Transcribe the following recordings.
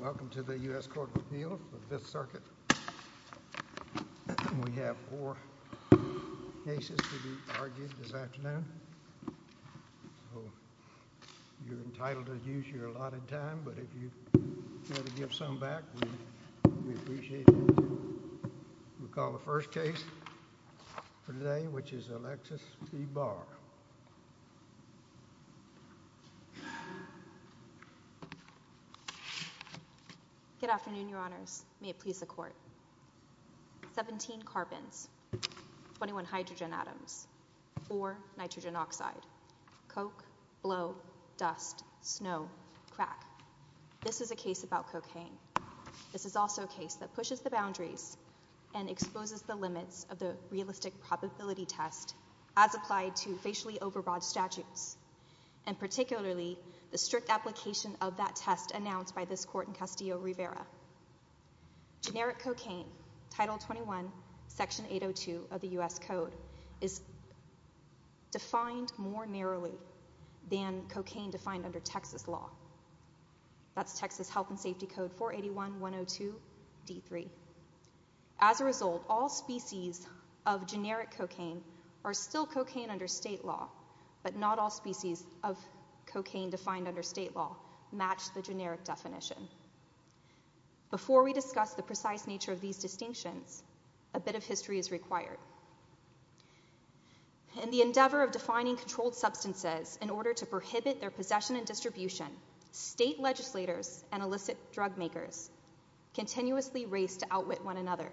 Welcome to the U. S. Court of Appeal for the Fifth Circuit. We have four cases to be argued this afternoon. You're entitled to use your allotted time, but if you want to give some back, we appreciate it. We'll call the first case for today, which is Alexis v. Barr. Good afternoon, Your Honors. May it please the Court. 17 carbons, 21 hydrogen atoms, or nitrogen oxide. Coke, blow, dust, snow, crack. This is a case about cocaine. This is also a case that pushes the boundaries and exposes the limits of the realistic probability test as applied to facially overbroad statutes, and particularly the strict application of that test announced by this Court in Castillo Rivera. Generic cocaine, Title 21, Section 802 of the U. S. Code, is defined more narrowly than cocaine defined under Texas law. That's Texas Health and Safety Code 481-102-D3. As a result, all species of generic cocaine are still cocaine under state law, but not all species of cocaine defined under state law match the generic definition. Before we discuss the precise nature of these distinctions, a bit of history is required. In the endeavor of defining controlled substances in order to prohibit their possession and distribution, state legislators and illicit drug makers continuously race to outwit one another.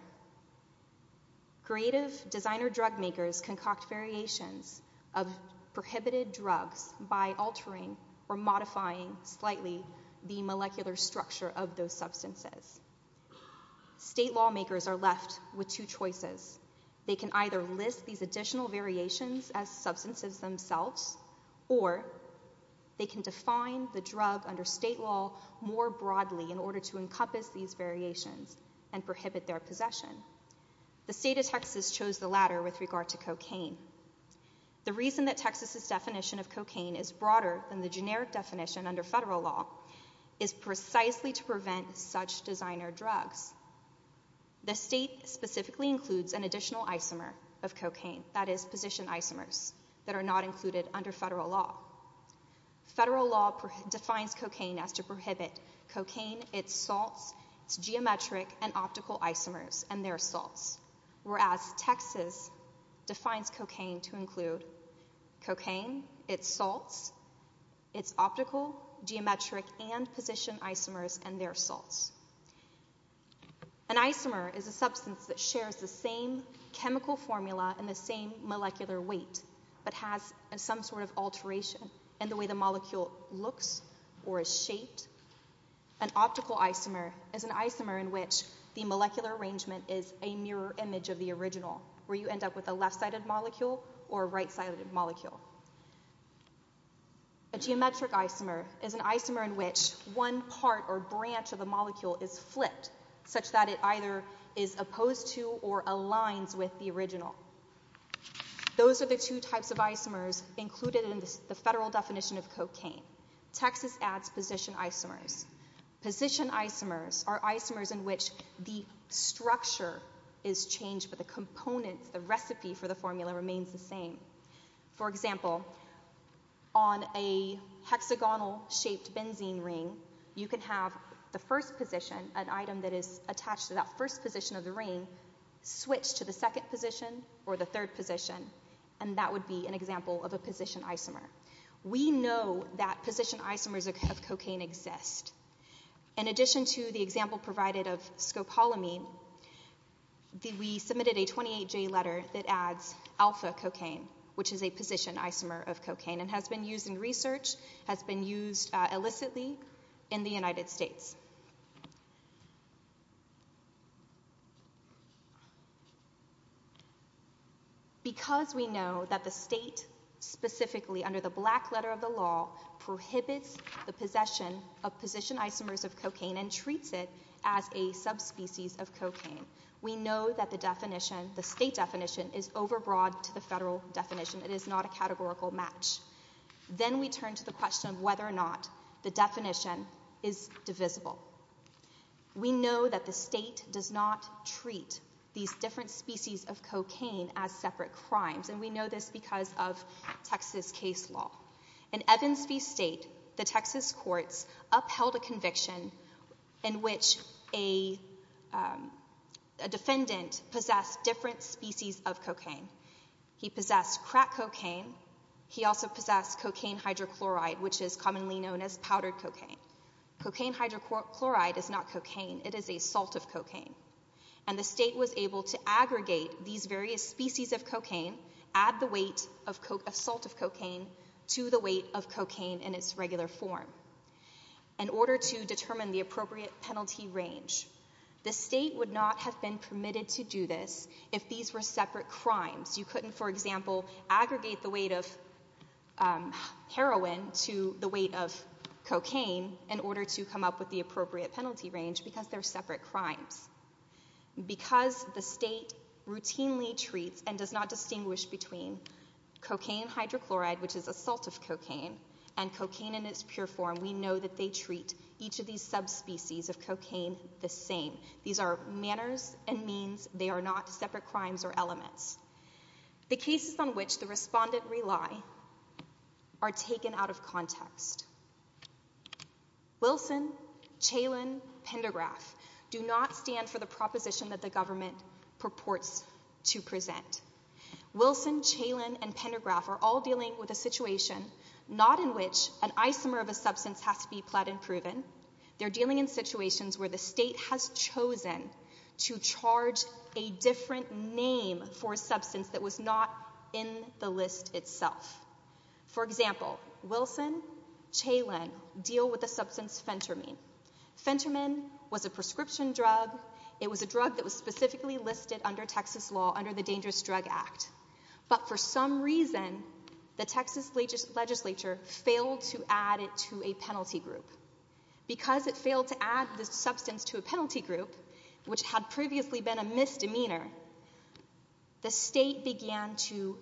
Creative designer drug makers concoct variations of prohibited drugs by altering or modifying slightly the molecular structure of those left with two choices. They can either list these additional variations as substances themselves or they can define the drug under state law more broadly in order to encompass these variations and prohibit their possession. The state of Texas chose the latter with regard to cocaine. The reason that Texas's definition of cocaine is broader than the generic definition under federal law is precisely to prevent such designer drugs. The state specifically includes an additional isomer of cocaine, that is, position isomers that are not included under federal law. Federal law defines cocaine as to prohibit cocaine, its salts, its geometric and optical isomers and their salts, whereas Texas defines cocaine to include cocaine, its salts, its optical, geometric and position isomers and their salts. An isomer is a substance that shares the same chemical formula and the same molecular weight but has some sort of alteration in the way the molecule looks or is shaped. An optical isomer is an isomer in which the molecular arrangement is a mirror image of the original where you end up with a left-sided molecule or a right-sided molecule. A geometric isomer is an isomer in which one part or branch of the molecule is flipped such that it either is opposed to or aligns with the original. Those are the two types of isomers included in the federal definition of cocaine. Texas adds position isomers. Position isomers are isomers in which the structure is changed but the components, the recipe for the formula remains the same. For example, on a hexagonal shaped benzene ring, you can have the first position, an item that is attached to that first position of the ring switch to the second position or the third position and that would be an example of a position isomer. We know that position isomers of cocaine exist. In addition to the example provided of scopolamine, we submitted a 28J letter that adds alpha cocaine which is a position isomer of cocaine and has been used in research, has been used illicitly in the United States. Because we know that the state specifically under the black letter of the law prohibits the possession of position isomers of cocaine and treats it as a subspecies of cocaine. We know that the definition, the state definition is over broad to the federal definition. It is not a categorical match. Then we turn to the question of whether or not the definition is divisible. We know that the state does not treat these different species of cocaine as separate crimes and we know this because of Texas case law. In Evansville State, the Texas courts upheld a conviction in which a defendant possessed different species of cocaine. He possessed crack cocaine. He also possessed cocaine hydrochloride which is commonly known as powdered cocaine. Cocaine hydrochloride is not cocaine. It is a salt of cocaine and the state was able to aggregate these various species of cocaine, add the weight of salt of cocaine to the weight of cocaine in its regular form. In order to determine the appropriate penalty range, the state would not have been permitted to do this if these were separate crimes. You couldn't for example aggregate the weight of heroin to the weight of cocaine in order to come up with the appropriate penalty range because they are separate crimes. Because the state routinely treats and does not distinguish between cocaine hydrochloride which is a salt of cocaine and cocaine in its pure form, we know that they treat each of these subspecies of cocaine the same. These are manners and means. They are not separate crimes or elements. The cases on which the respondent rely are taken out of context. Wilson, Chalen, Pendergraf do not stand for the proposition that the government purports to present. Wilson, Chalen, and Pendergraf are all dealing with a situation not in which an isomer of a substance has to be plead and proven. They are dealing in situations where the state has chosen to charge a different name for a substance that was not in the list itself. For example, Wilson, Chalen deal with a substance Fentermin. Fentermin was a prescription drug. It was a drug that was specifically listed under Texas law under the Dangerous Drug Act. But for some reason, the Texas legislature failed to add it to a penalty group. Because it failed to add the substance to a penalty group, which had previously been a misdemeanor, the state began to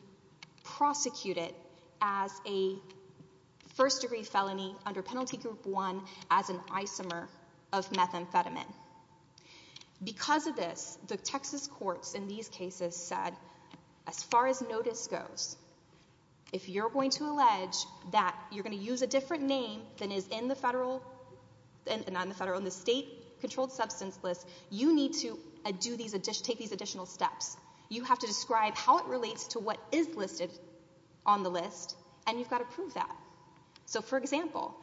prosecute it as a first-degree felony under Penalty Group 1 as an isomer of methamphetamine. Because of this, the Texas courts in these cases said, as far as notice goes, if you're going to allege that you're going to use a drug, you have to take these additional steps. You have to describe how it relates to what is listed on the list, and you've got to prove that. So, for example,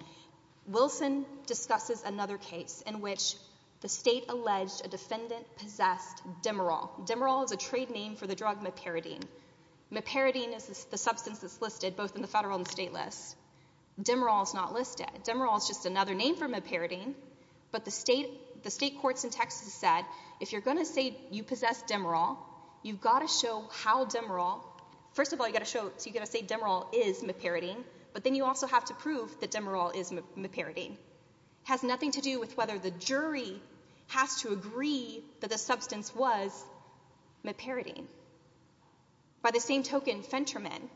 Wilson discusses another case in which the state alleged a defendant possessed Demerol. Demerol is a trade name for the drug Mepiridine. Mepiridine is the substance that's listed both in the federal and state lists. Demerol is not listed. Demerol is just another name for Mepiridine. But the state, if you're going to say you possess Demerol, you've got to show how Demerol, first of all you've got to show, so you've got to say Demerol is Mepiridine, but then you also have to prove that Demerol is Mepiridine. It has nothing to do with whether the jury has to agree that the substance was Mepiridine. By the same token, Phentermine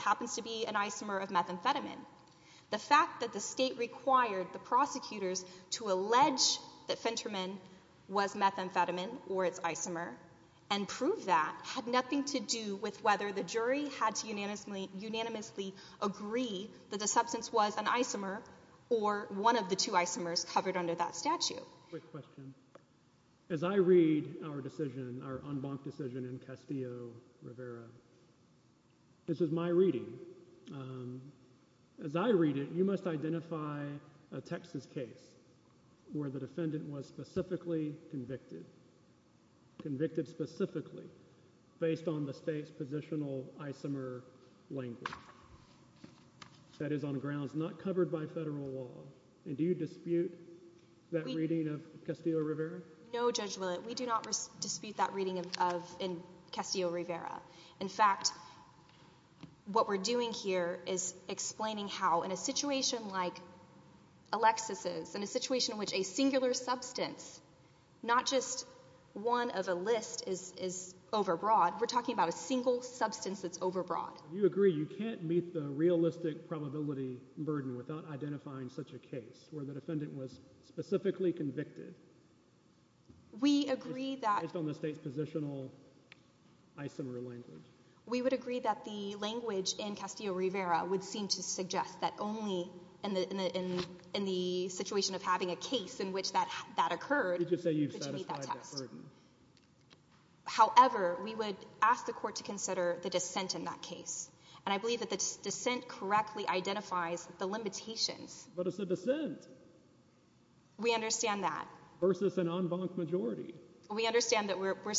happens to be an isomer of methamphetamine. The fact that the state required the prosecutors to identify methamphetamine, or its isomer, and prove that had nothing to do with whether the jury had to unanimously agree that the substance was an isomer or one of the two isomers covered under that statute. Quick question. As I read our decision, our en banc decision in Castillo-Rivera, this is my reading. As I read it, you must identify a Texas case where the defendant was specifically convicted, convicted specifically, based on the state's positional isomer language. That is on grounds not covered by federal law, and do you dispute that reading of Castillo-Rivera? No, Judge Willett, we do not dispute that reading in Castillo-Rivera. In fact, what we're doing here is explaining how, in a situation like Alexis's, in a situation in which a singular substance, not just one of a list is overbroad, we're talking about a single substance that's overbroad. You agree you can't meet the realistic probability burden without identifying such a case where the defendant was specifically convicted based on the state's positional isomer language? We would agree that the language in Castillo-Rivera would seem to suggest that only in the situation of having a case in which that occurred, would you meet that test. However, we would ask the court to consider the dissent in that case, and I believe that the dissent correctly identifies the limitations. But it's a dissent. We understand that. Versus an en banc majority. We understand that we're more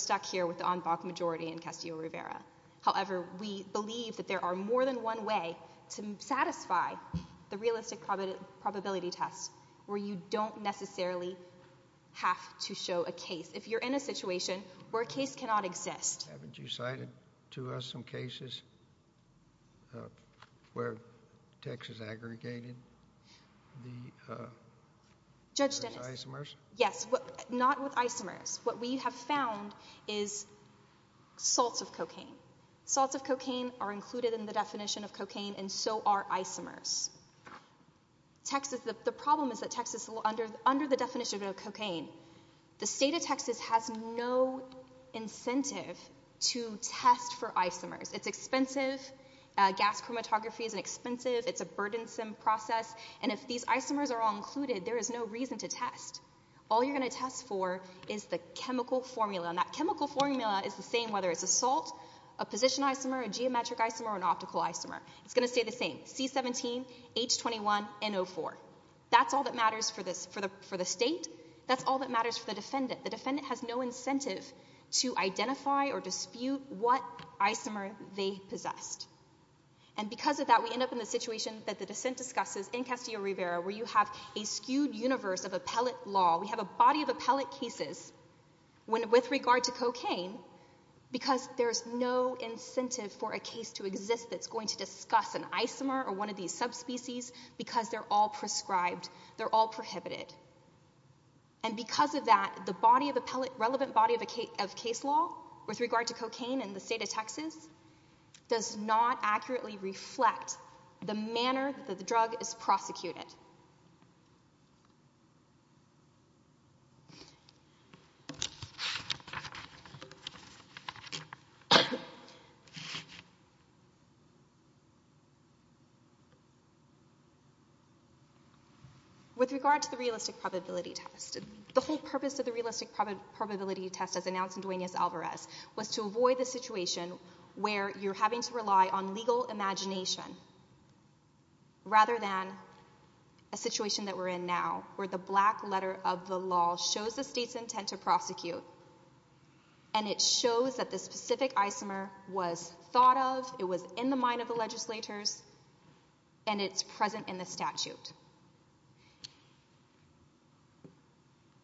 than one way to satisfy the realistic probability test where you don't necessarily have to show a case. If you're in a situation where a case cannot exist. Haven't you cited to us some cases where Texas aggregated the isomers? Yes, not with isomers. What we have found is salts of cocaine. Salts of cocaine are included in the definition of cocaine and so are isomers. The problem is that Texas, under the definition of cocaine, the state of Texas has no incentive to test for isomers. It's expensive. Gas chromatography is expensive. It's a burdensome process. And if these isomers are all included, there is no reason to test. All you're going to test for is the chemical formula. And that chemical formula is the same whether it's a salt, a position isomer, a geometric isomer, or an optical isomer. It's going to stay the same. C17, H21, NO4. That's all that matters for the state. That's all that matters for the defendant. The defendant has no incentive to identify or dispute what isomer they possessed. And because of that, we end up in the situation that the dissent universe of appellate law, we have a body of appellate cases with regard to cocaine because there's no incentive for a case to exist that's going to discuss an isomer or one of these subspecies because they're all prescribed, they're all prohibited. And because of that, the relevant body of case law with regard to cocaine in the state of Texas does not accurately reflect the manner that the drug is prosecuted. With regard to the realistic probability test, the whole purpose of the realistic probability test as announced in Duenas-Alvarez was to avoid the situation where you're having to rely on legal imagination rather than a situation that we're in now, where the black letter of the law shows the state's intent to prosecute, and it shows that the specific isomer was thought of, it was in the mind of the legislators, and it's present in the statute.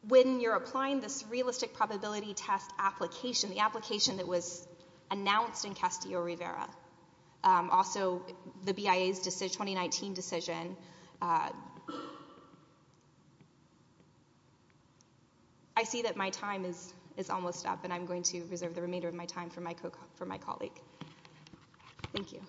When you're applying this realistic probability test application, the application that was also the BIA's 2019 decision, I see that my time is almost up and I'm going to reserve the remainder of my time for my colleague. Thank you.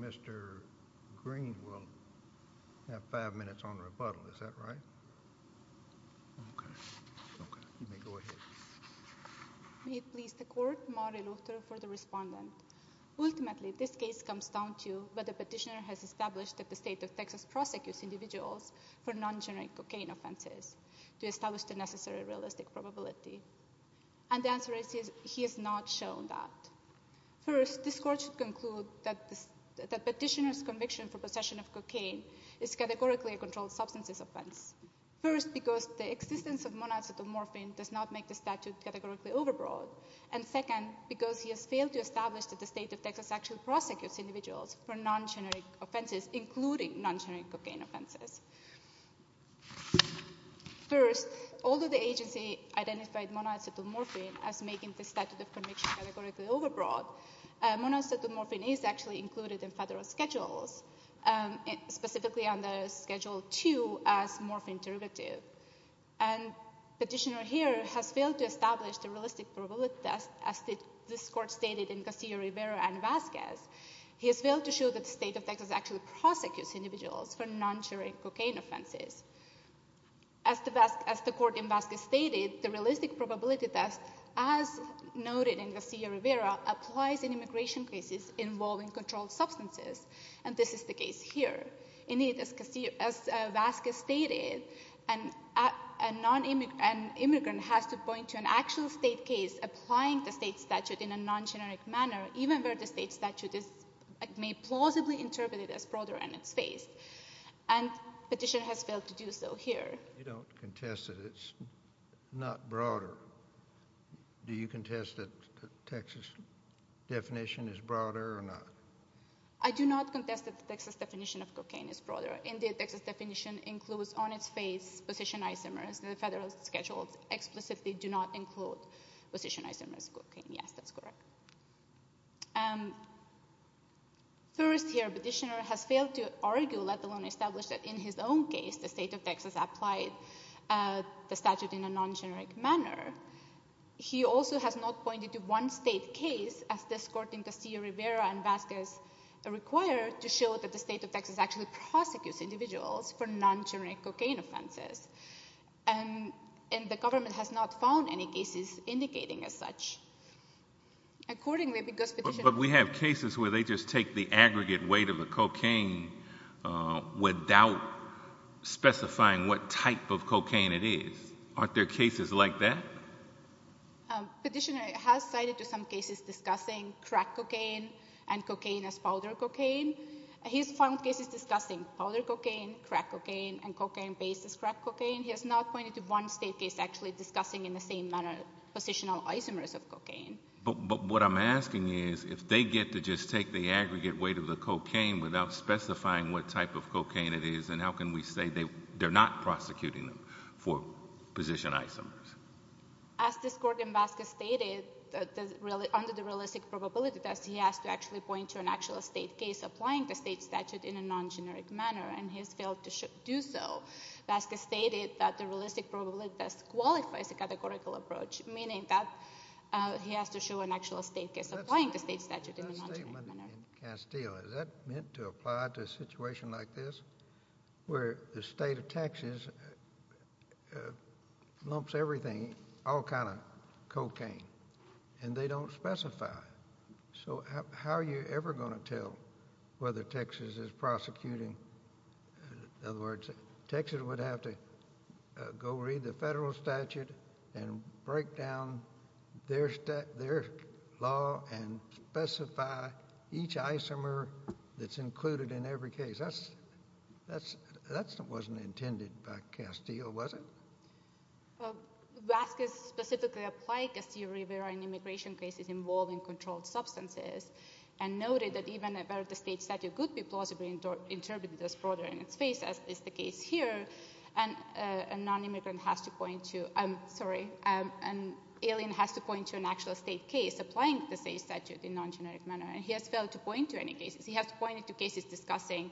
Mr. Green will have five minutes on rebuttal. Is that right? Okay. Okay. You may go ahead. May it please the court, Mari Luchter for the respondent. Ultimately, this case comes down to whether the petitioner has established that the state of Texas prosecutes individuals for non-generic cocaine offenses to establish the necessary realistic probability. And the answer is he has not shown that. First, this court should conclude that the petitioner's offense is a non-generic substance offense. First, because the existence of monoxetamorphine does not make the statute categorically overbroad. And second, because he has failed to establish that the state of Texas actually prosecutes individuals for non-generic offenses, including non-generic cocaine offenses. First, although the agency identified monoxetamorphine as making the statute of conviction categorically overbroad, monoxetamorphine is actually included in federal schedules, specifically under Schedule II as morphine derivative. And petitioner here has failed to establish the realistic probability test as this court stated in Garcia Rivera and Vasquez. He has failed to show that the state of Texas actually prosecutes individuals for non-generic cocaine offenses. As the court in Vasquez stated, the realistic probability test, as noted in Garcia Rivera, applies in immigration cases involving controlled substances, and this is the case here. Indeed, as Vasquez stated, an immigrant has to point to an actual state case applying the state statute in a non-generic manner, even where the state statute may plausibly interpret it as broader in its space. And petitioner has failed to do so here. You don't contest that it's not broader. Do you contest that the Texas definition is broader? I do not contest that the Texas definition of cocaine is broader. Indeed, the Texas definition includes on its face position isomers, and the federal schedules explicitly do not include position isomers in cocaine. Yes, that's correct. First here, petitioner has failed to argue, let alone establish that in his own case, the state of Texas applied the statute in a non-generic manner. He also has not pointed to one state case, as this court in Garcia Rivera and Vasquez require to show that the state of Texas actually prosecutes individuals for non-generic cocaine offenses. And the government has not found any cases indicating as such. Accordingly, because petitioner... But we have cases where they just take the aggregate weight of a cocaine without specifying what type of cocaine it is. Aren't there cases like that? Petitioner has cited to some cases discussing crack cocaine and cocaine as powder cocaine. He's found cases discussing powder cocaine, crack cocaine, and cocaine based as crack cocaine. He has not pointed to one state case actually discussing in the same manner positional isomers of cocaine. But what I'm asking is, if they get to just take the aggregate weight of the cocaine without specifying what type of cocaine it is, then how can we say they're not prosecuting them for positional isomers? As this court in Vasquez stated, under the realistic probability test, he has to actually point to an actual state case applying the state statute in a non-generic manner, and he has failed to do so. Vasquez stated that the realistic probability test qualifies a categorical approach, meaning that he has to show an actual state case applying the state statute in a non-generic manner. That statement in Castile, is that meant to apply to a situation like this, where the state of Texas lumps everything, all kind of cocaine, and they don't specify. So how are you ever going to tell whether Texas is prosecuting? In other words, Texas would have to go read the federal statute and break down their law and specify each isomer that's included in every case. That wasn't intended by Castile, was it? Vasquez specifically applied Castile-Rivera immigration cases involving controlled substances, and noted that even if the state statute could be plausibly interpreted as broader in its face, as is the case here, a non-immigrant has to point to, I'm sorry, an alien has to point to an actual state case applying the state statute in a non-generic manner, and he has failed to point to any cases. He has pointed to cases discussing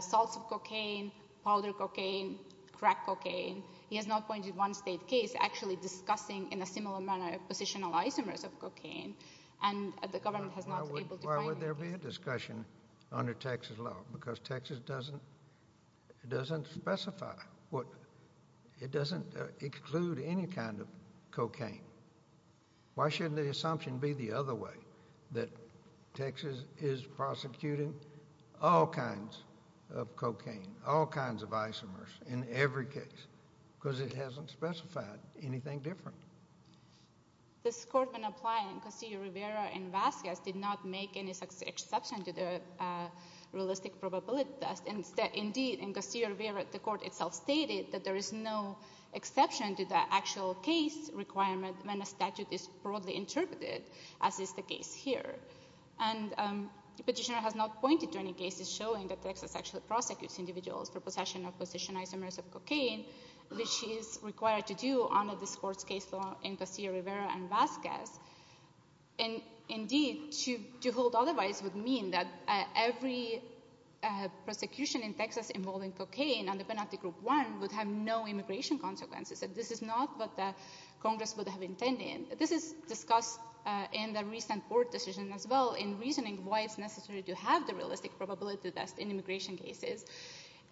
salts of cocaine, powder cocaine, crack cocaine. He has not pointed to one state case actually discussing in a similar manner positional isomers of cocaine, and the government has not been able to find it. Why would there be a discussion under Texas law? Because Texas doesn't specify. It doesn't exclude any kind of cocaine. Why shouldn't the assumption be the other way, that Texas is prosecuting all kinds of cocaine, all kinds of isomers in every case? Because it hasn't specified anything different. This court, when applying Castile-Rivera and Vasquez, did not make any such exception to the realistic probability test. Indeed, in Castile-Rivera, the court itself stated that there is no exception to the actual case requirement when a statute is broadly interpreted, as is the case here. And the petitioner has not pointed to any cases showing that Texas actually prosecutes individuals for possession of positional isomers of cocaine, which is required to do under this court's case law in Castile-Rivera and Vasquez. Indeed, to hold otherwise would mean that every prosecution in Texas involving cocaine under Penalty Group 1 would have no immigration consequences. This is not what the Congress would have intended. This is discussed in the recent court decision as well, in reasoning why it's necessary to have the realistic probability test in immigration cases.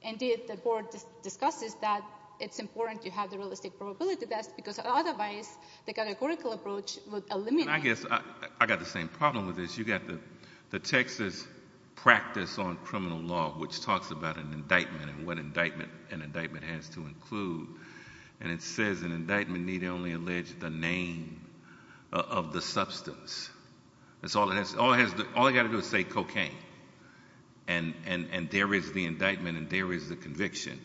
Indeed, the court discusses that it's important to have the realistic probability test, because otherwise the categorical approach would eliminate— I guess I got the same problem with this. You got the Texas practice on criminal law, which talks about an indictment and what an indictment has to include. And it says an indictment need only allege the name of the substance. All it has to do is say cocaine. And there is the indictment, and there is the conviction.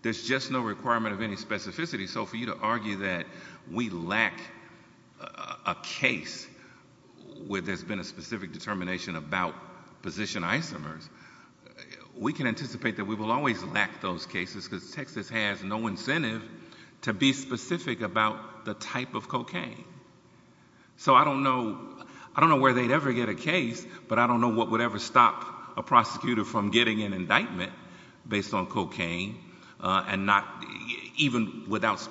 There's just no requirement of any specificity. So for you to argue that we lack a case where there's been a specific determination about position isomers, we can anticipate that we will always lack those cases, because Texas has no incentive to be specific about the type of cocaine. So I don't know where they'd ever get a case, but I don't know what would ever stop a prosecutor from getting an indictment based on cocaine, even without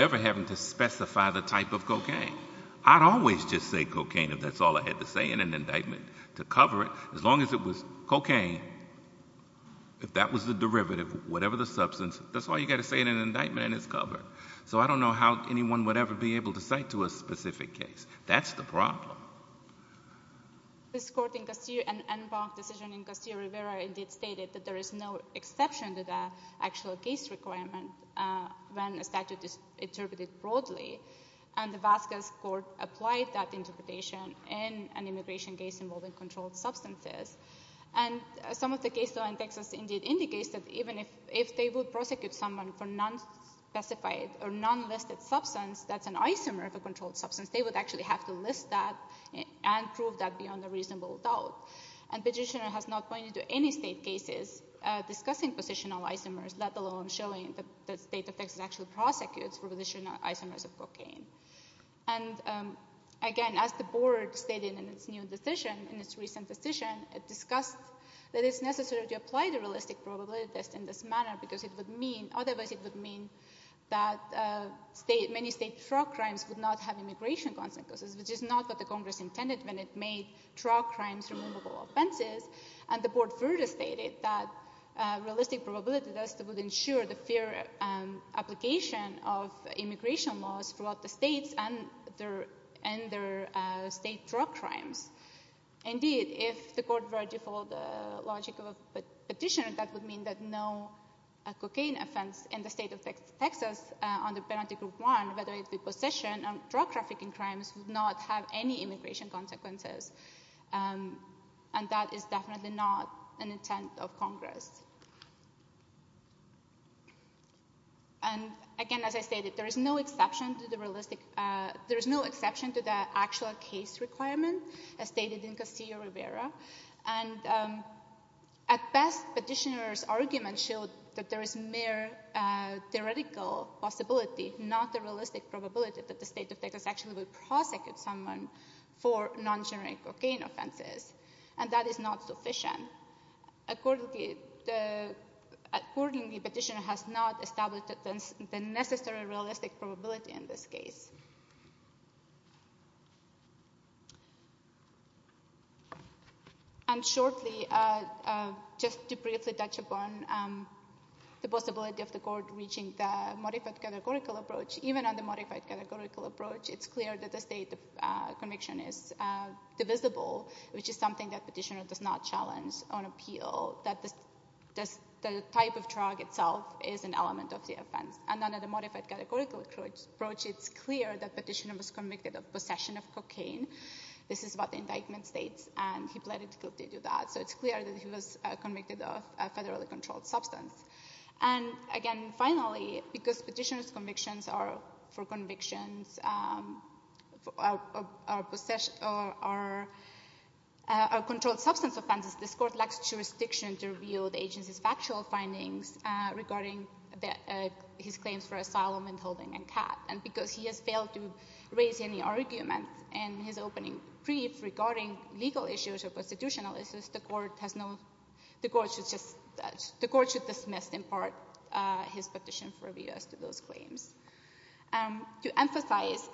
ever having to specify the type of indictment to cover it, as long as it was cocaine. If that was the derivative, whatever the substance, that's all you got to say in an indictment, and it's covered. So I don't know how anyone would ever be able to cite to a specific case. That's the problem. This court in Castillo—an en banc decision in Castillo-Rivera indeed stated that there is no exception to the actual case requirement when a statute is interpreted broadly. And Alaska's court applied that interpretation in an immigration case involving controlled substances. And some of the case law in Texas indeed indicates that even if they would prosecute someone for non-specified or non-listed substance that's an isomer of a controlled substance, they would actually have to list that and prove that beyond a reasonable doubt. And the petitioner has not pointed to any state cases discussing positional isomers, let alone showing that the state of Texas actually prosecutes for positional isomers of cocaine. And again, as the board stated in its new decision, in its recent decision, it discussed that it's necessary to apply the realistic probability test in this manner because it would mean—otherwise it would mean that many state drug crimes would not have immigration consequences, which is not what the Congress intended when it made drug crimes removable for the fair application of immigration laws throughout the states and their state drug crimes. Indeed, if the court were to follow the logic of a petitioner, that would mean that no cocaine offense in the state of Texas under Penalty Group 1, whether it be possession or drug trafficking crimes, would not have any immigration consequences. And that is And again, as I stated, there is no exception to the realistic—there is no exception to the actual case requirement as stated in Casillo-Rivera. And at best, petitioner's argument showed that there is mere theoretical possibility, not a realistic probability, that the state of Texas actually would prosecute someone for non-generic cocaine offenses. And that does not establish the necessary realistic probability in this case. And shortly, just to briefly touch upon the possibility of the court reaching the modified categorical approach, even on the modified categorical approach, it's clear that the state of conviction is divisible, which is something that petitioner does not challenge on appeal, that the type of drug itself is an element of the offense. And under the modified categorical approach, it's clear that petitioner was convicted of possession of cocaine. This is what the indictment states, and he pleaded guilty to that. So it's clear that he was convicted of a federally controlled substance. And again, finally, because petitioner's convictions are for convictions, are controlled substance offenses, this Court lacks jurisdiction to review the agency's factual findings regarding his claims for asylum and holding a cat. And because he has failed to raise any arguments in his opening brief regarding legal issues or constitutional issues, the Court has no—the Court should just—the Court should dismiss in part his petition for review as to those claims. To emphasize,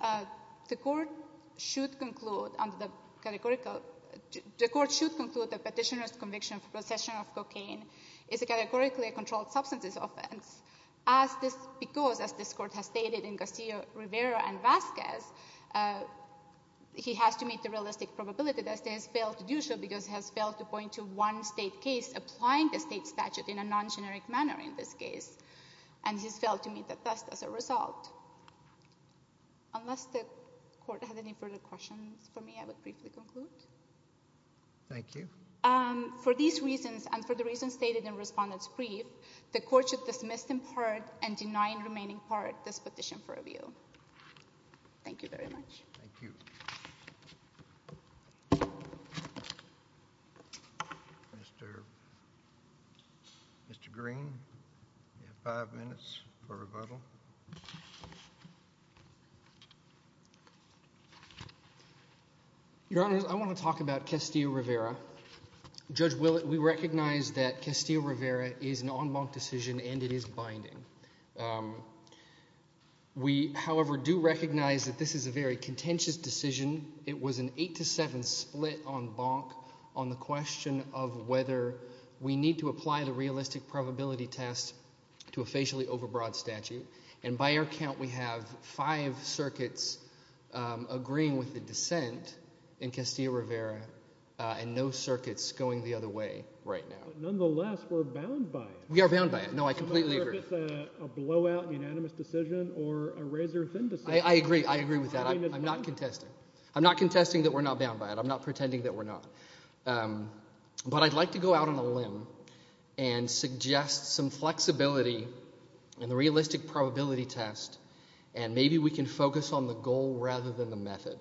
the Court should conclude under the categorical—the Court should conclude that petitioner's conviction for possession of cocaine is a categorically controlled substance offense, as this—because, as this Court has stated in Garcia-Rivera and Vasquez, he has to meet the realistic probability that the state has failed to do so because it has failed to point to one state case applying the state statute in a non-generic manner, in this case, and he has failed to meet the test as a result. Unless the Court has any further questions for me, I would briefly conclude. Thank you. For these reasons, and for the reasons stated in Respondent's brief, the Court should dismiss in part and deny in remaining part this petition for review. Thank you very much. Thank you. Mr. Green, you have five minutes for rebuttal. Your Honors, I want to talk about Castillo-Rivera. Judge Willett, we recognize that Castillo-Rivera is an en banc decision and it is binding. We, however, do recognize that this is a very contentious decision. It was an 8-7 split en banc on the question of whether we need to apply the realistic probability test to a facially overbroad statute. And by our count, we have five circuits agreeing with the dissent in Castillo-Rivera and no circuits going the other way right now. But nonetheless, we're bound by it. We are bound by it. No, I completely agree. It's a blowout unanimous decision or a razor-thin decision. I agree. I agree with that. I'm not contesting. I'm not contesting that we're not bound by it. I'm not pretending that we're not. But I'd like to go out on a limb and suggest some flexibility in the realistic probability test and maybe we can focus on the goal rather than the method.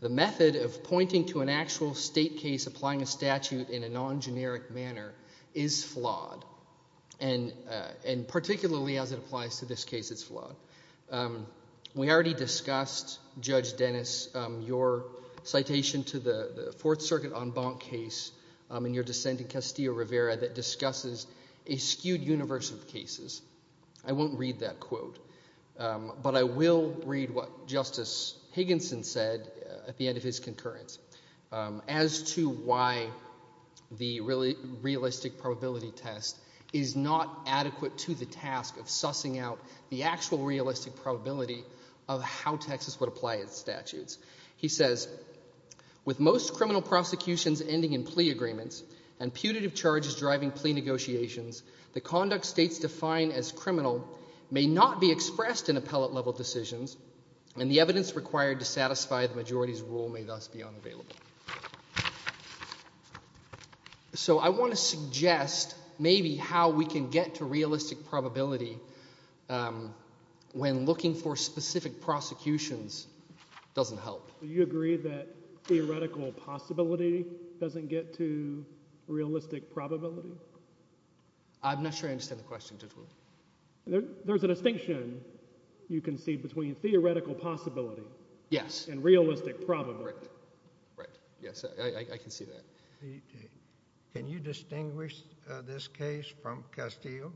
The method of pointing to an actual state case applying a statute in a non-generic manner is flawed. And particularly as it applies to this case, it's flawed. We already discussed, Judge Dennis, your citation to the Fourth Circuit en banc case in your dissent in Castillo-Rivera that discusses a skewed universe of cases. I won't read that quote. But I will read what Justice Higginson said at the end of his concurrence as to why the realistic probability test is not adequate to the task of sussing out the actual realistic probability of how Texas would apply its statutes. He says, with most criminal prosecutions ending in plea agreements and putative charges driving plea negotiations, the conduct states define as criminal may not be expressed in appellate-level decisions and the evidence required to satisfy the majority's rule may thus be unavailable. So I want to suggest maybe how we can get to realistic probability when looking for specific prosecutions doesn't help. Do you agree that theoretical possibility doesn't get to realistic probability? I'm not sure I understand the question. There's a distinction, you can see, between theoretical possibility and realistic probability. Can you distinguish this case from Castillo?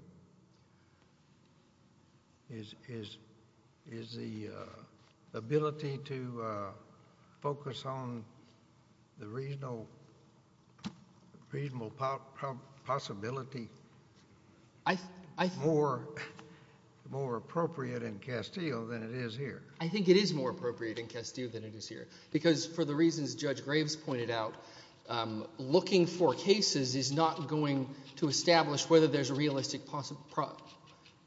Is the ability to focus on the reasonable possibility more appropriate in Castillo than it is here? I think it is more appropriate in Castillo than it is here. Because for the reasons Judge Graves pointed out, looking for cases is not going to establish whether there's a realistic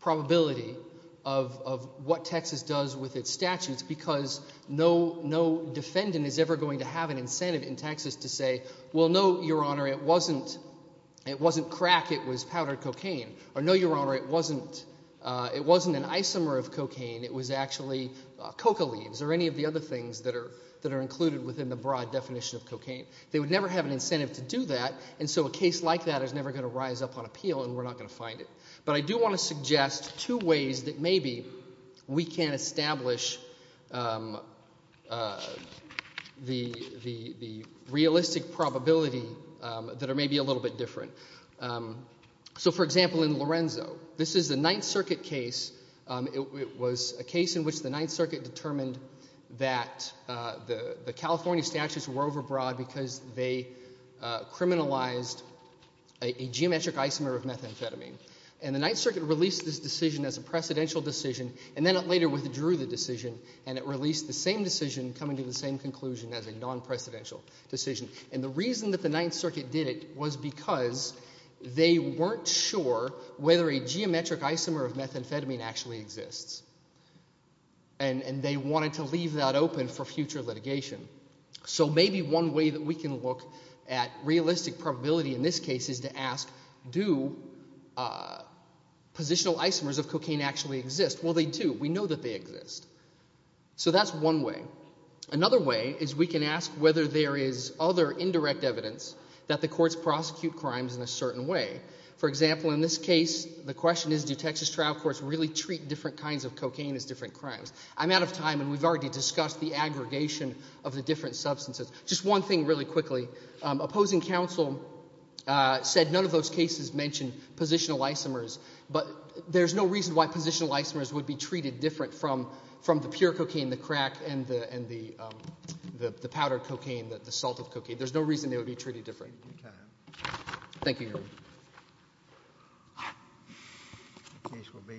probability of what Texas does with its statutes because no defendant is ever going to have an incentive in Texas to say, well, no, Your Honor, it wasn't crack, it was powdered cocaine. Or, no, Your Honor, it wasn't an isomer of cocaine, it was actually coca leaves or any of the other things that are included within the broad definition of cocaine. They would never have an incentive to do that and so a case like that is never going to rise up on appeal and we're not going to find it. But I do want to suggest two ways that maybe we can establish the realistic probability that are maybe a little bit different. So, for example, in Lorenzo, this is a Ninth Circuit case. It was a case in which the Ninth Circuit determined that the California statutes were overbroad because they criminalized a geometric isomer of methamphetamine. And the Ninth Circuit released this decision as a precedential decision and then it later withdrew the decision and it released the same decision coming to the same conclusion as a non-precedential decision. And the reason that the Ninth Circuit did it was because they weren't sure whether a geometric isomer of methamphetamine actually exists and they wanted to leave that open for future litigation. So maybe one way that we can look at realistic probability in this case is to ask, do positional isomers of cocaine actually exist? Well, they do. We know that they exist. So that's one way. Another way is we can ask whether there is other indirect evidence that the courts prosecute crimes in a certain way. For example, in this case, the question is, do Texas trial courts really treat different kinds of cocaine as different crimes? I'm out of time and we've already discussed the aggregation of the different substances. Just one thing really quickly. Opposing counsel said none of those cases mentioned positional isomers, but there's no reason why positional isomers would be treated different from the pure cocaine, the powdered cocaine, the salt of cocaine. There's no reason they would be treated different. Thank you, Your Honor.